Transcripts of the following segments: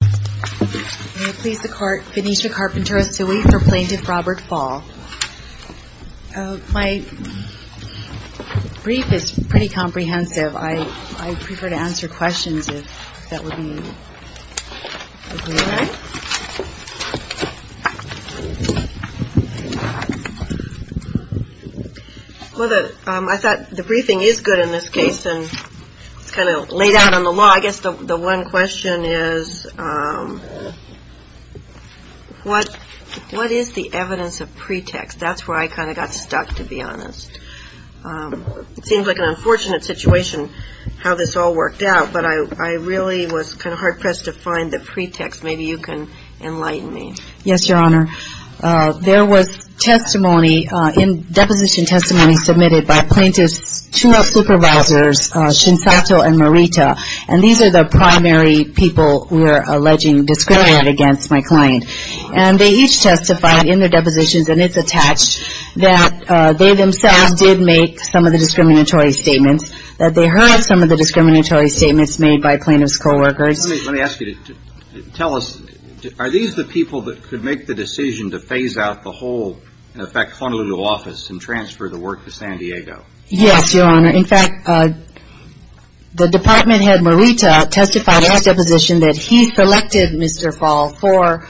May it please the court, Venetia Carpenter-Asui, for Plaintiff Robert Fahl. My brief is pretty comprehensive. I'd prefer to answer questions if that would be alright. Well, I thought the briefing is good in this case and it's kind of laid out on the law. I guess the one question is, what is the evidence of pretext? That's where I kind of got stuck, to be honest. It seems like an unfortunate situation how this all worked out, but I really was kind of hard-pressed to find the pretext. Maybe you can enlighten me. Yes, Your Honor. There was testimony, deposition testimony submitted by plaintiff's two supervisors, Shinsato and Marita. And these are the primary people we're alleging discriminant against my client. And they each testified in their depositions, and it's attached, that they themselves did make some of the discriminatory statements, that they heard some of the discriminatory statements made by plaintiff's co-workers. Let me ask you, tell us, are these the people that could make the decision to phase out the whole, in effect, Honolulu office and transfer the work to San Diego? Yes, Your Honor. In fact, the department head, Marita, testified in her deposition that he selected Mr. Fahl for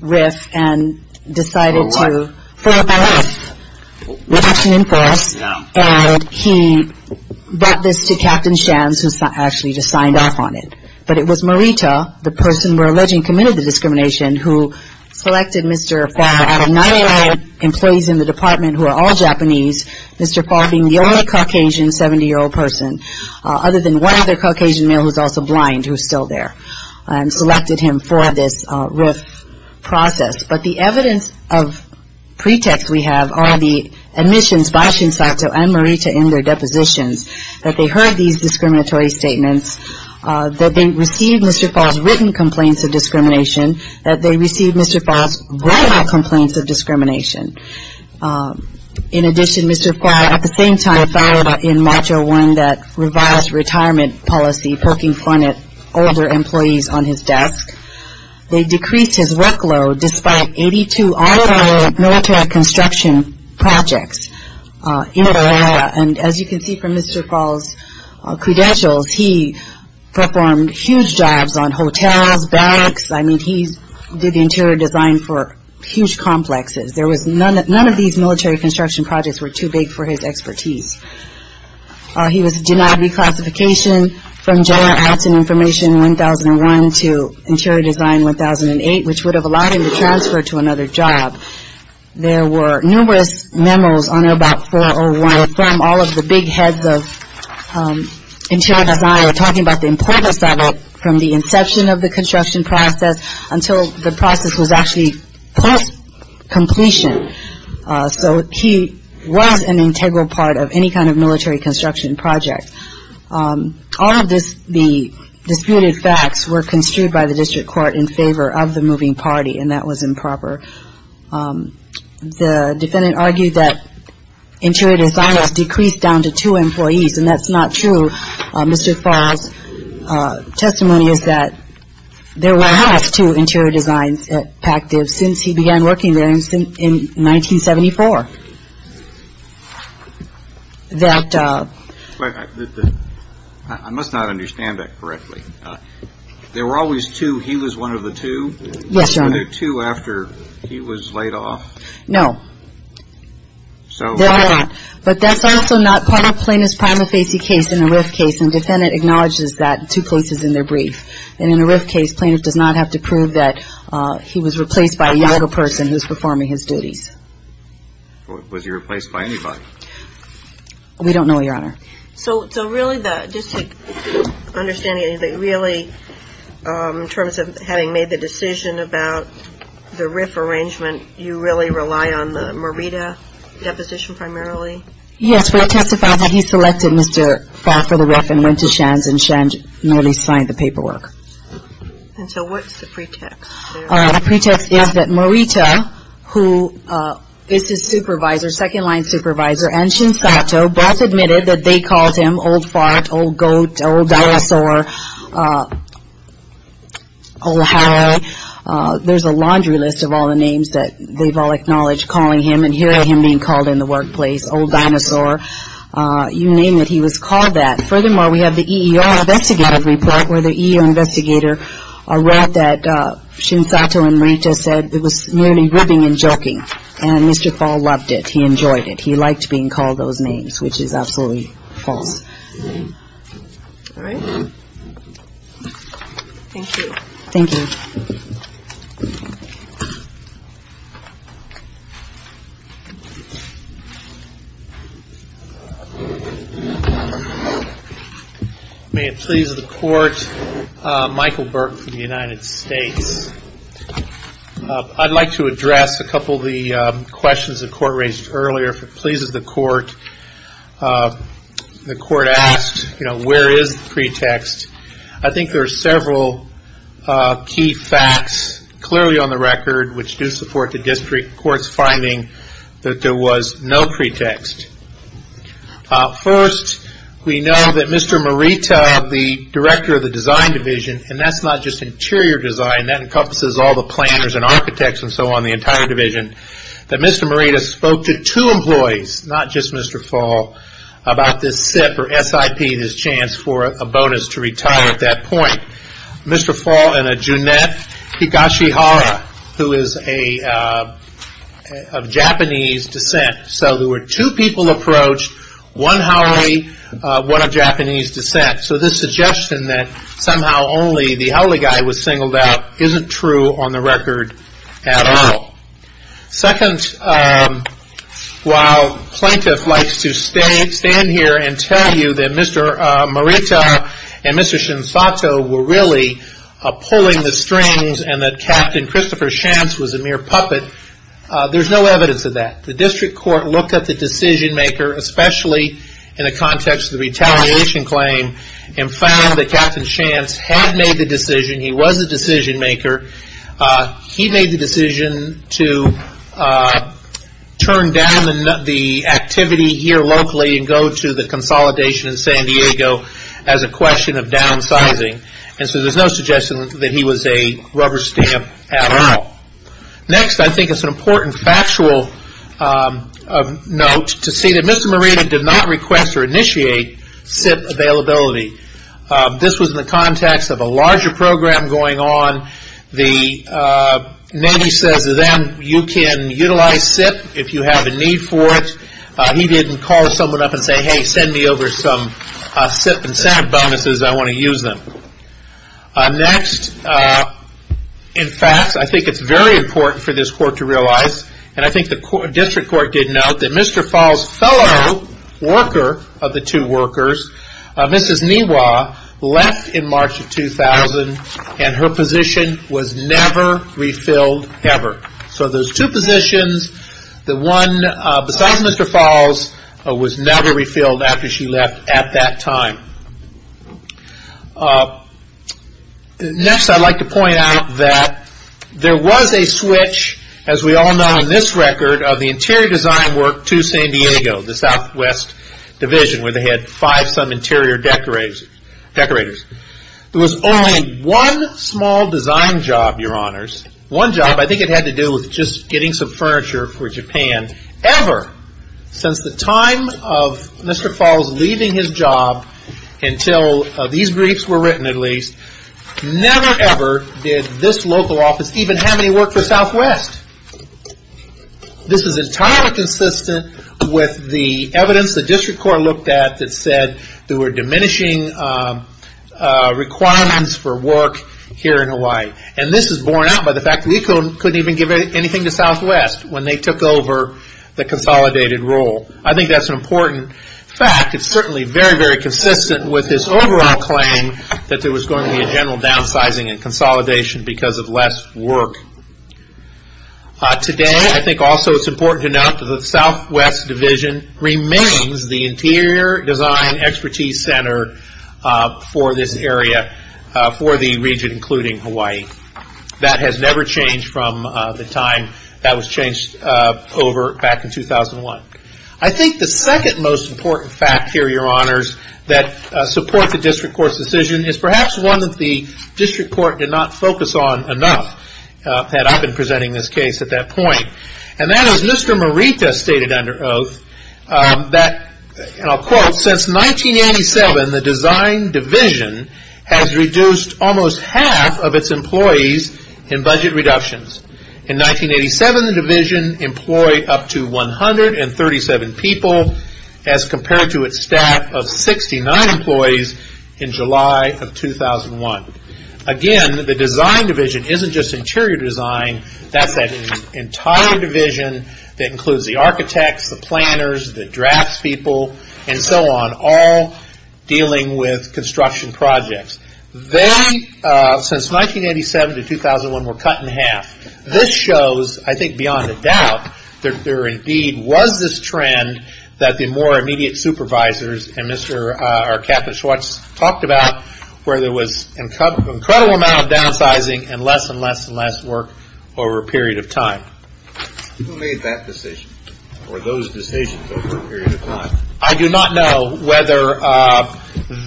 RIF and decided to... For what? Reduction in force, and he brought this to Captain Shams, who actually just signed off on it. But it was Marita, the person we're alleging committed the discrimination, who selected Mr. Fahl out of 99 employees in the department who are all Japanese, Mr. Fahl being the only Caucasian 70-year-old person, other than one other Caucasian male who's also blind, who's still there, and selected him for this RIF process. But the evidence of pretext we have are the admissions by Shinzato and Marita in their depositions, that they heard these discriminatory statements, that they received Mr. Fahl's written complaints of discrimination, that they received Mr. Fahl's written complaints of discrimination. In addition, Mr. Fahl at the same time filed in Module 1 that revised retirement policy, poking fun at older employees on his desk. They decreased his workload despite 82 all-in-all military construction projects in an era, and as you can see from Mr. Fahl's credentials, he performed huge jobs on hotels, banks. I mean, he did the interior design for huge complexes. None of these military construction projects were too big for his expertise. He was denied reclassification from General Arts and Information in 1001 to Interior Design in 1008, which would have allowed him to transfer to another job. There were numerous memos on Airbot 401 from all of the big heads of interior design talking about the importance of it from the inception of the construction process until the process was actually post-completion. So he was an integral part of any kind of military construction project. All of the disputed facts were construed by the district court in favor of the moving party, and that was improper. The defendant argued that interior design has decreased down to two employees, and that's not true. Mr. Fahl's testimony is that there were half two interior designs at Pactive since he began working there in 1974. I must not understand that correctly. There were always two. He was one of the two. Yes, Your Honor. Were there two after he was laid off? No. There are not. But that's also not part of Plaintiff's prima facie case in the RIF case, and the defendant acknowledges that in two places in their brief. And in the RIF case, Plaintiff does not have to prove that he was replaced by a younger person who was performing his duties. Was he replaced by anybody? We don't know, Your Honor. So really, just to understand, really, in terms of having made the decision about the RIF arrangement, you really rely on the Morita deposition primarily? Yes, we have testified that he selected Mr. Fahl for the RIF and went to Shands, and Shands normally signed the paperwork. And so what's the pretext? The pretext is that Morita, who is his supervisor, second-line supervisor, and Shinsato, both admitted that they called him Old Fart, Old Goat, Old Dinosaur, Old Harold. There's a laundry list of all the names that they've all acknowledged calling him, and here are him being called in the workplace, Old Dinosaur. You name it, he was called that. Furthermore, we have the EER investigative report, where the EER investigator wrote that Shinsato and Morita said it was merely ribbing and joking. And Mr. Fahl loved it. He enjoyed it. He liked being called those names, which is absolutely false. All right. Thank you. Thank you. May it please the Court, Michael Burke from the United States. I'd like to address a couple of the questions the Court raised earlier, if it pleases the Court. The Court asked, you know, where is the pretext? I think there are several key facts, clearly on the record, which do support the District Court's finding that there was no pretext. First, we know that Mr. Morita, the director of the design division, and that's not just interior design, that encompasses all the planners and architects and so on, the entire division, that Mr. Morita spoke to two employees, not just Mr. Fahl, about this SIP, or S-I-P, this chance for a bonus to retire at that point. Mr. Fahl and a Junette Higashihara, who is of Japanese descent. So there were two people approached, one Haole, one of Japanese descent. So this suggestion that somehow only the Haole guy was singled out isn't true on the record at all. Second, while plaintiff likes to stand here and tell you that Mr. Morita and Mr. Shinsato were really pulling the strings, and that Captain Christopher Shantz was a mere puppet, there's no evidence of that. The District Court looked at the decision maker, especially in the context of the retaliation claim, and found that Captain Shantz had made the decision, he was the decision maker, he made the decision to turn down the activity here locally and go to the consolidation in San Diego as a question of downsizing. And so there's no suggestion that he was a rubber stamp at all. Next, I think it's an important factual note to see that Mr. Morita did not request or initiate SIP availability. This was in the context of a larger program going on. The Navy says then you can utilize SIP if you have a need for it. He didn't call someone up and say, hey, send me over some SIP and SAB bonuses, I want to use them. Next, in fact, I think it's very important for this Court to realize, and I think the District Court did note that Mr. Fahl's fellow worker of the two workers, Mrs. Niwa, left in March of 2000, and her position was never refilled ever. So those two positions, the one besides Mr. Fahl's, was never refilled after she left at that time. Next, I'd like to point out that there was a switch, as we all know in this record, of the interior design work to San Diego, the Southwest Division, where they had five-some interior decorators. There was only one small design job, Your Honors. One job, I think it had to do with just getting some furniture for Japan. Ever since the time of Mr. Fahl's leaving his job until these briefs were written, at least, never ever did this local office even have any work for Southwest. This is entirely consistent with the evidence the District Court looked at that said there were diminishing requirements for work here in Hawaii. And this is borne out by the fact that we couldn't even give anything to Southwest when they took over the consolidated role. I think that's an important fact. I think it's certainly very, very consistent with this overall claim that there was going to be a general downsizing and consolidation because of less work. Today, I think also it's important to note that the Southwest Division remains the interior design expertise center for this area, for the region including Hawaii. That has never changed from the time that was changed back in 2001. I think the second most important fact here, Your Honors, that supports the District Court's decision is perhaps one that the District Court did not focus on enough that I've been presenting this case at that point. And that is Mr. Morita stated under oath that, and I'll quote, since 1997 the Design Division has reduced almost half of its employees in budget reductions. In 1987, the division employed up to 137 people as compared to its staff of 69 employees in July of 2001. Again, the Design Division isn't just interior design, that's that entire division that includes the architects, the planners, the draftspeople, and so on, all dealing with construction projects. They, since 1987 to 2001, were cut in half. This shows, I think beyond a doubt, that there indeed was this trend that the more immediate supervisors and Captain Schwartz talked about where there was an incredible amount of downsizing and less and less and less work over a period of time. Who made that decision or those decisions over a period of time? I do not know whether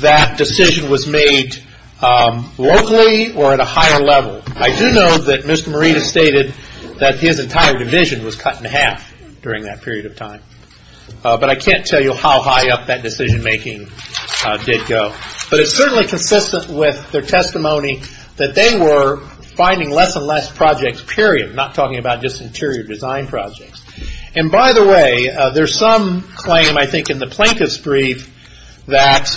that decision was made locally or at a higher level. I do know that Mr. Morita stated that his entire division was cut in half during that period of time. But I can't tell you how high up that decision making did go. But it's certainly consistent with their testimony that they were finding less and less projects, period, not talking about just interior design projects. And by the way, there's some claim, I think, in the plaintiff's brief that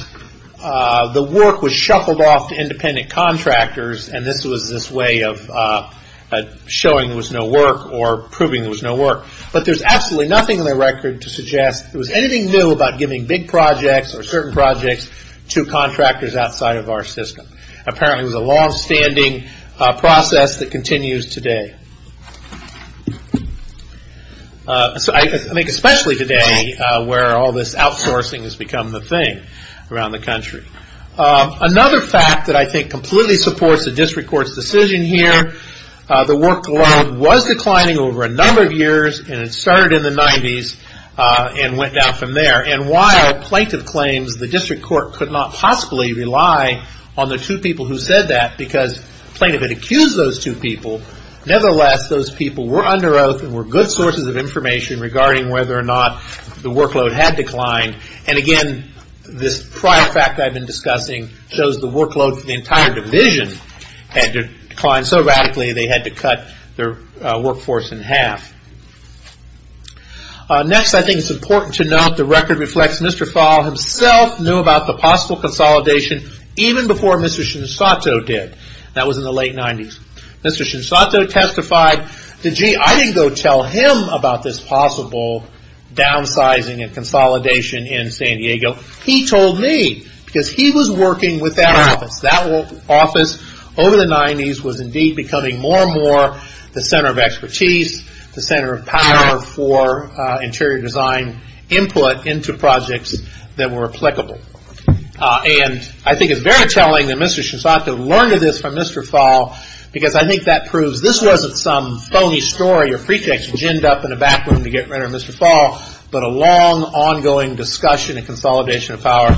the work was shuffled off to independent contractors and this was this way of showing there was no work or proving there was no work. But there's absolutely nothing in their record to suggest there was anything new about giving big projects or certain projects to contractors outside of our system. Apparently it was a longstanding process that continues today. I think especially today where all this outsourcing has become the thing around the country. Another fact that I think completely supports the district court's decision here, the workload was declining over a number of years and it started in the 90s and went down from there. And while plaintiff claims the district court could not possibly rely on the two people who said that because plaintiff had accused those two people, nevertheless those people were under oath and were good sources of information regarding whether or not the workload had declined. And again, this prior fact I've been discussing shows the workload for the entire division had declined so radically they had to cut their workforce in half. Next, I think it's important to note the record reflects Mr. Fahl himself knew about the possible consolidation even before Mr. Shinsato did. That was in the late 90s. Mr. Shinsato testified. I didn't go tell him about this possible downsizing and consolidation in San Diego. He told me because he was working with that office. That office over the 90s was indeed becoming more and more the center of expertise, the center of power for interior design input into projects that were applicable. And I think it's very telling that Mr. Shinsato learned of this from Mr. Fahl because I think that proves this wasn't some phony story or pretext ginned up in a back room to get rid of Mr. Fahl, but a long ongoing discussion of consolidation of power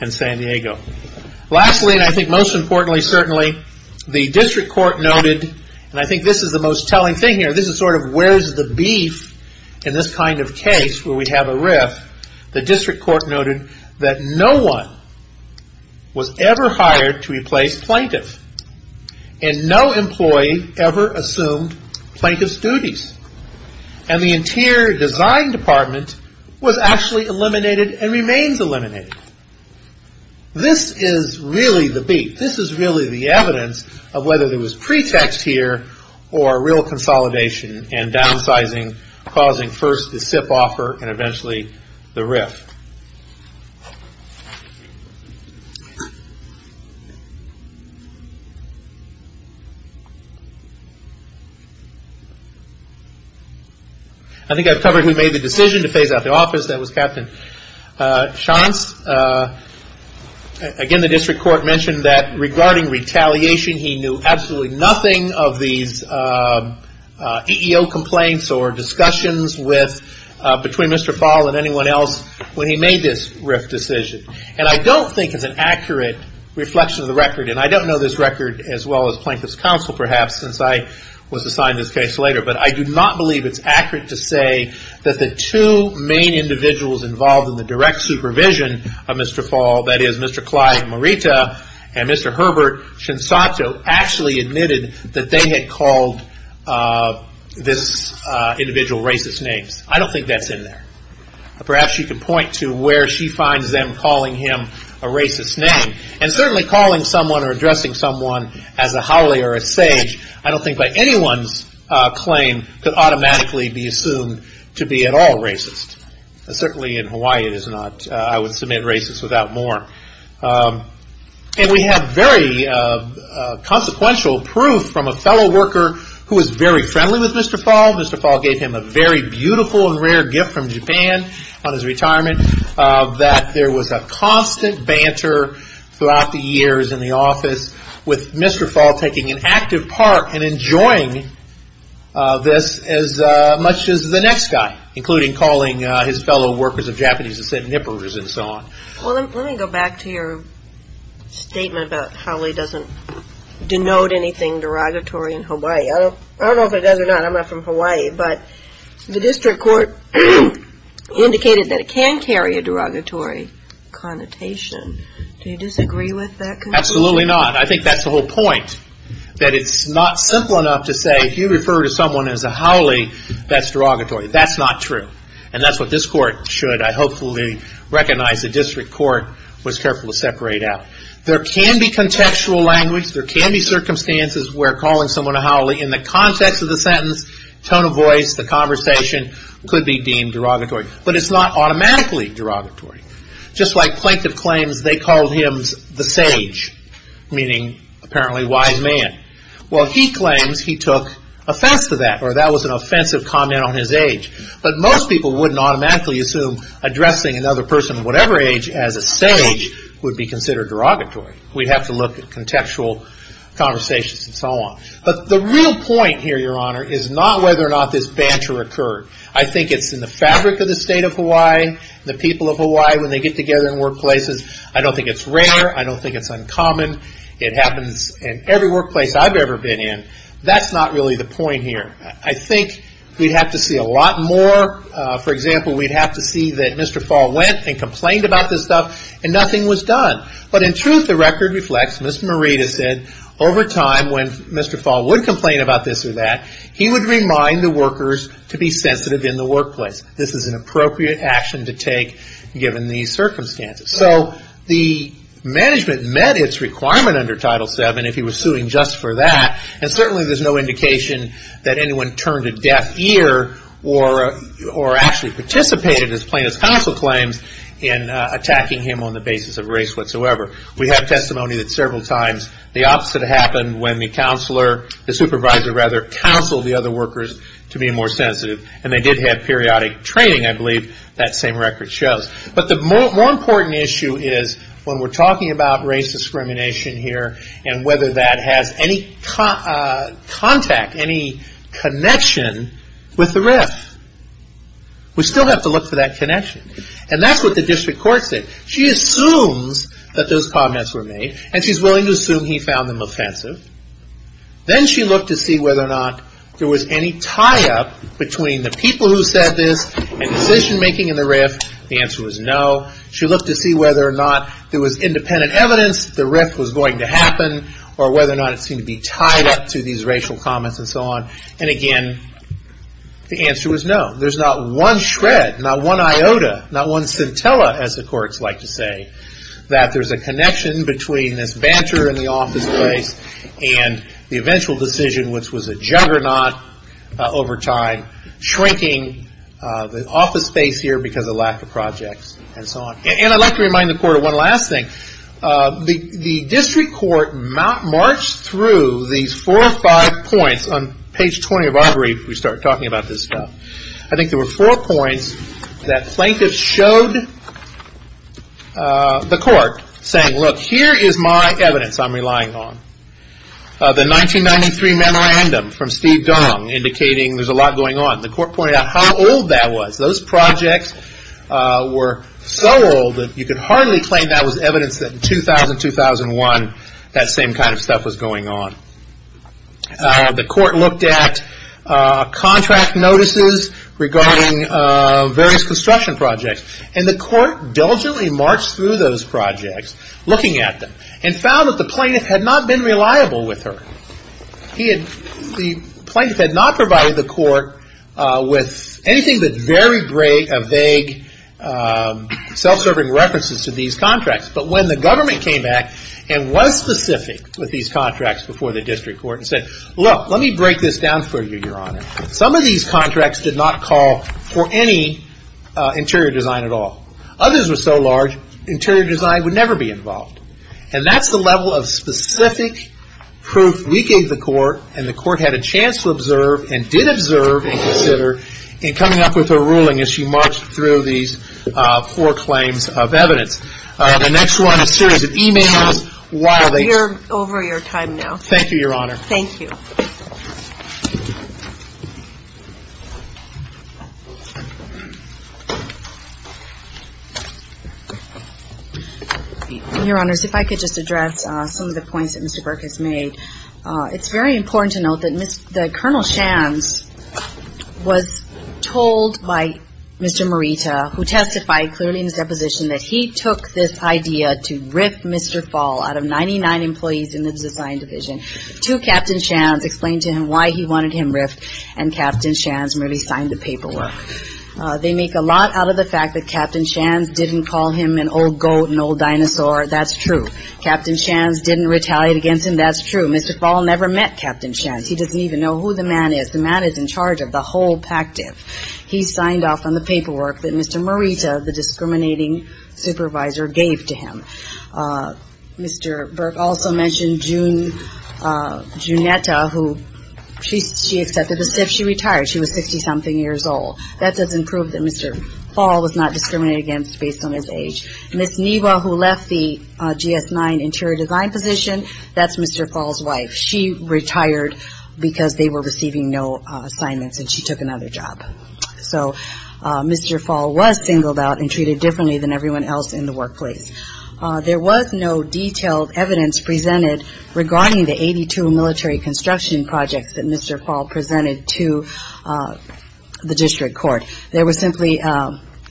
in San Diego. Lastly, and I think most importantly certainly, the district court noted, and I think this is the most telling thing here, this is sort of where's the beef in this kind of case where we have a riff. The district court noted that no one was ever hired to replace plaintiff. And no employee ever assumed plaintiff's duties. And the interior design department was actually eliminated and remains eliminated. This is really the beef. This is really the evidence of whether there was pretext here or real consolidation and downsizing causing first the SIP offer and eventually the riff. I think I've covered who made the decision to phase out the office. That was Captain Shantz. Again, the district court mentioned that regarding retaliation, he knew absolutely nothing of these EEO complaints or discussions between Mr. Fahl and anyone else when he made this rift decision. And I don't think it's an accurate reflection of the record, and I don't know this record as well as Plaintiff's Counsel perhaps since I was assigned this case later, but I do not believe it's accurate to say that the two main individuals involved in the direct supervision of Mr. Fahl, that is Mr. Clyde Marita and Mr. Herbert Shinsato, actually admitted that they had called this individual racist names. I don't think that's in there. Perhaps you could point to where she finds them calling him a racist name. And certainly calling someone or addressing someone as a haole or a sage, I don't think by anyone's claim could automatically be assumed to be at all racist. Certainly in Hawaii it is not. I would submit racist without more. And we have very consequential proof from a fellow worker who was very friendly with Mr. Fahl. Mr. Fahl gave him a very beautiful and rare gift from Japan on his retirement that there was a constant banter throughout the years in the office with Mr. Fahl taking an active part in enjoying this as much as the next guy, including calling his fellow workers of Japanese descent nippers and so on. Let me go back to your statement about haole doesn't denote anything derogatory in Hawaii. I don't know if it does or not. I'm not from Hawaii. But the district court indicated that it can carry a derogatory connotation. Do you disagree with that? Absolutely not. I think that's the whole point. That it's not simple enough to say if you refer to someone as a haole, that's derogatory. That's not true. And that's what this court should hopefully recognize. The district court was careful to separate out. There can be contextual language. There can be circumstances where calling someone a haole in the context of the sentence, tone of voice, the conversation could be deemed derogatory. But it's not automatically derogatory. Just like plaintiff claims they called him the sage, meaning apparently wise man. Well, he claims he took offense to that or that was an offensive comment on his age. But most people wouldn't automatically assume addressing another person of whatever age as a sage would be considered derogatory. We'd have to look at contextual conversations and so on. But the real point here, your honor, is not whether or not this banter occurred. I think it's in the fabric of the state of Hawaii, the people of Hawaii, when they get together in workplaces. I don't think it's rare. I don't think it's uncommon. It happens in every workplace I've ever been in. That's not really the point here. I think we'd have to see a lot more. For example, we'd have to see that Mr. Fall went and complained about this stuff and nothing was done. But in truth, the record reflects, Ms. Merida said, over time when Mr. Fall would complain about this or that, he would remind the workers to be sensitive in the workplace. This is an appropriate action to take given these circumstances. So the management met its requirement under Title VII if he was suing just for that, and certainly there's no indication that anyone turned a deaf ear or actually participated in his plaintiff's counsel claims in attacking him on the basis of race whatsoever. We have testimony that several times the opposite happened when the supervisor counseled the other workers to be more sensitive, and they did have periodic training, I believe. That same record shows. But the more important issue is when we're talking about race discrimination here and whether that has any contact, any connection with the RIF. We still have to look for that connection. And that's what the district court said. She assumes that those comments were made, and she's willing to assume he found them offensive. Then she looked to see whether or not there was any tie-up between the people who said this and decision-making in the RIF. The answer was no. She looked to see whether or not there was independent evidence that the RIF was going to happen or whether or not it seemed to be tied up to these racial comments and so on. And again, the answer was no. There's not one shred, not one iota, not one scintilla, as the courts like to say, that there's a connection between this banter in the office space and the eventual decision, which was a juggernaut over time, shrinking the office space here because of lack of projects and so on. And I'd like to remind the court of one last thing. The district court marched through these four or five points. On page 20 of our brief, we start talking about this stuff. I think there were four points that plaintiffs showed the court, saying, look, here is my evidence I'm relying on. The 1993 memorandum from Steve Gong, indicating there's a lot going on. The court pointed out how old that was. Those projects were so old that you could hardly claim that was evidence that in 2000, 2001, that same kind of stuff was going on. The court looked at contract notices regarding various construction projects. And the court diligently marched through those projects, looking at them, and found that the plaintiff had not been reliable with her. The plaintiff had not provided the court with anything that's very vague, self-serving references to these contracts. But when the government came back and was specific with these contracts before the district court and said, look, let me break this down for you, Your Honor. Some of these contracts did not call for any interior design at all. Others were so large, interior design would never be involved. And that's the level of specific proof we gave the court, and the court had a chance to observe and did observe and consider in coming up with her ruling as she marched through these poor claims of evidence. I have the next one, a series of e-mails while they ---- We are over your time now. Thank you, Your Honor. Thank you. Thank you. Your Honors, if I could just address some of the points that Mr. Burkus made. It's very important to note that Colonel Shands was told by Mr. Morita, who testified clearly in his deposition, that he took this idea to rip Mr. Fall out of 99 employees in the design division to Captain Shands, explain to him why he wanted him ripped, and Captain Shands merely signed the paperwork. They make a lot out of the fact that Captain Shands didn't call him an old goat, an old dinosaur. That's true. Captain Shands didn't retaliate against him. That's true. Mr. Fall never met Captain Shands. He doesn't even know who the man is. The man is in charge of the whole PACTIF. He signed off on the paperwork that Mr. Morita, the discriminating supervisor, gave to him. Mr. Burke also mentioned Junetta, who she accepted as if she retired. She was 60-something years old. That doesn't prove that Mr. Fall was not discriminated against based on his age. Ms. Neva, who left the GS-9 interior design position, that's Mr. Fall's wife. She retired because they were receiving no assignments, and she took another job. So Mr. Fall was singled out and treated differently than everyone else in the workplace. There was no detailed evidence presented regarding the 82 military construction projects that Mr. Fall presented to the district court. There was simply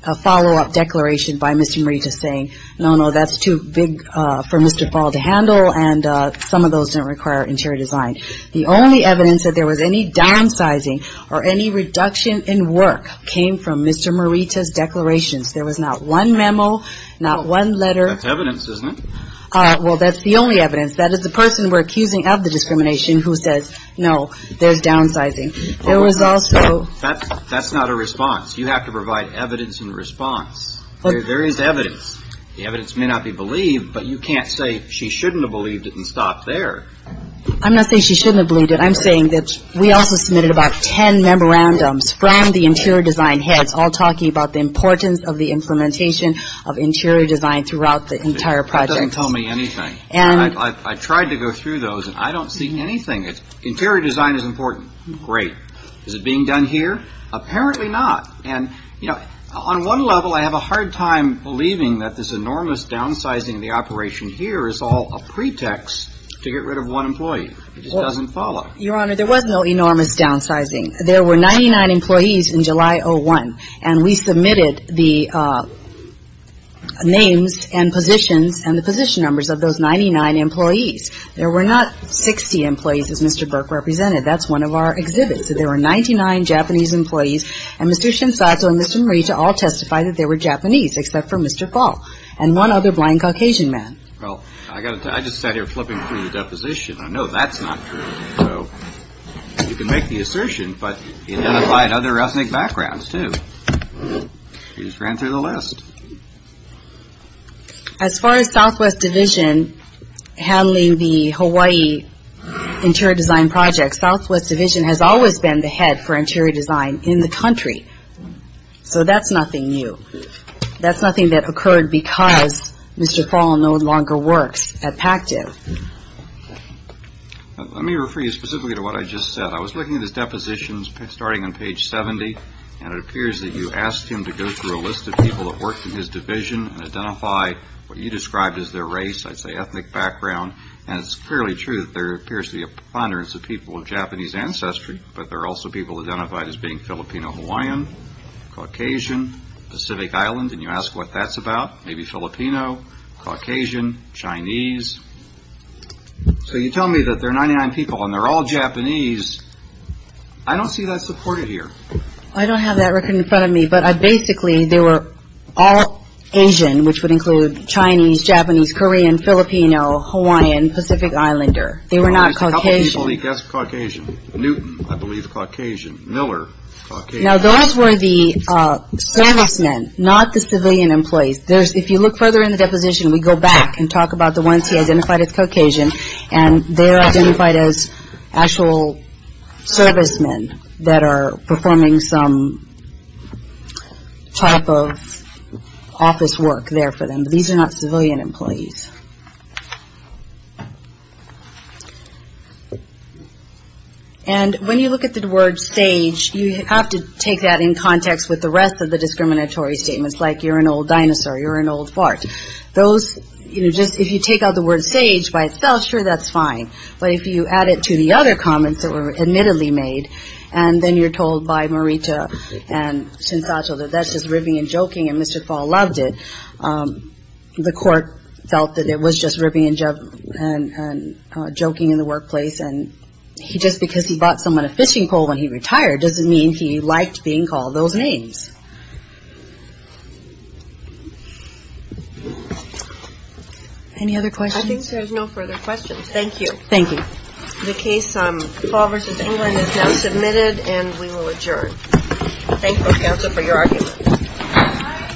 a follow-up declaration by Mr. Morita saying, no, no, that's too big for Mr. Fall to handle, and some of those don't require interior design. The only evidence that there was any downsizing or any reduction in work came from Mr. Morita's declarations. There was not one memo, not one letter. That's evidence, isn't it? Well, that's the only evidence. That is the person we're accusing of the discrimination who says, no, there's downsizing. There was also – That's not a response. You have to provide evidence in response. There is evidence. The evidence may not be believed, but you can't say she shouldn't have believed it and stopped there. I'm not saying she shouldn't have believed it. I'm saying that we also submitted about 10 memorandums from the interior design heads, all talking about the importance of the implementation of interior design throughout the entire project. That doesn't tell me anything. I tried to go through those, and I don't see anything. Interior design is important. Great. Is it being done here? Apparently not. On one level, I have a hard time believing that this enormous downsizing of the operation here is all a pretext to get rid of one employee. It just doesn't follow. Your Honor, there was no enormous downsizing. There were 99 employees in July 01, and we submitted the names and positions and the position numbers of those 99 employees. There were not 60 employees, as Mr. Burke represented. That's one of our exhibits. There were 99 Japanese employees, and Mr. Shinsato and Mr. Morita all testified that they were Japanese, except for Mr. Paul and one other blind Caucasian man. Well, I just sat here flipping through the deposition. I know that's not true, so you can make the assertion, but he identified other ethnic backgrounds, too. He just ran through the list. As far as Southwest Division handling the Hawaii interior design project, Southwest Division has always been the head for interior design in the country, so that's nothing new. That's nothing that occurred because Mr. Paul no longer works at PACTIV. Let me refer you specifically to what I just said. I was looking at his depositions starting on page 70, and it appears that you asked him to go through a list of people that worked in his division and identify what you described as their race, I'd say ethnic background, and it's clearly true that there appears to be a ponderance of people of Japanese ancestry, but there are also people identified as being Filipino-Hawaiian, Caucasian, Pacific Island, and you ask what that's about, maybe Filipino, Caucasian, Chinese. So you tell me that there are 99 people and they're all Japanese. I don't see that supported here. I don't have that record in front of me, but basically they were all Asian, which would include Chinese, Japanese, Korean, Filipino, Hawaiian, Pacific Islander. They were not Caucasian. There's a couple people he guessed Caucasian. Newton, I believe, Caucasian. Miller, Caucasian. Now those were the servicemen, not the civilian employees. If you look further in the deposition, we go back and talk about the ones he identified as Caucasian, and they're identified as actual servicemen that are performing some type of office work there for them. These are not civilian employees. And when you look at the word stage, you have to take that in context with the rest of the discriminatory statements, like you're an old dinosaur, you're an old fart. Those, you know, just if you take out the word stage by its spell, sure, that's fine. But if you add it to the other comments that were admittedly made, and then you're told by Marita and Shinsato that that's just ribbing and joking and Mr. Fall loved it, the court felt that it was just ribbing and joking in the workplace. And just because he bought someone a fishing pole when he retired doesn't mean he liked being called those names. Any other questions? I think there's no further questions. Thank you. Thank you. The case Fall v. England is now submitted, and we will adjourn. Thank you, counsel, for your argument.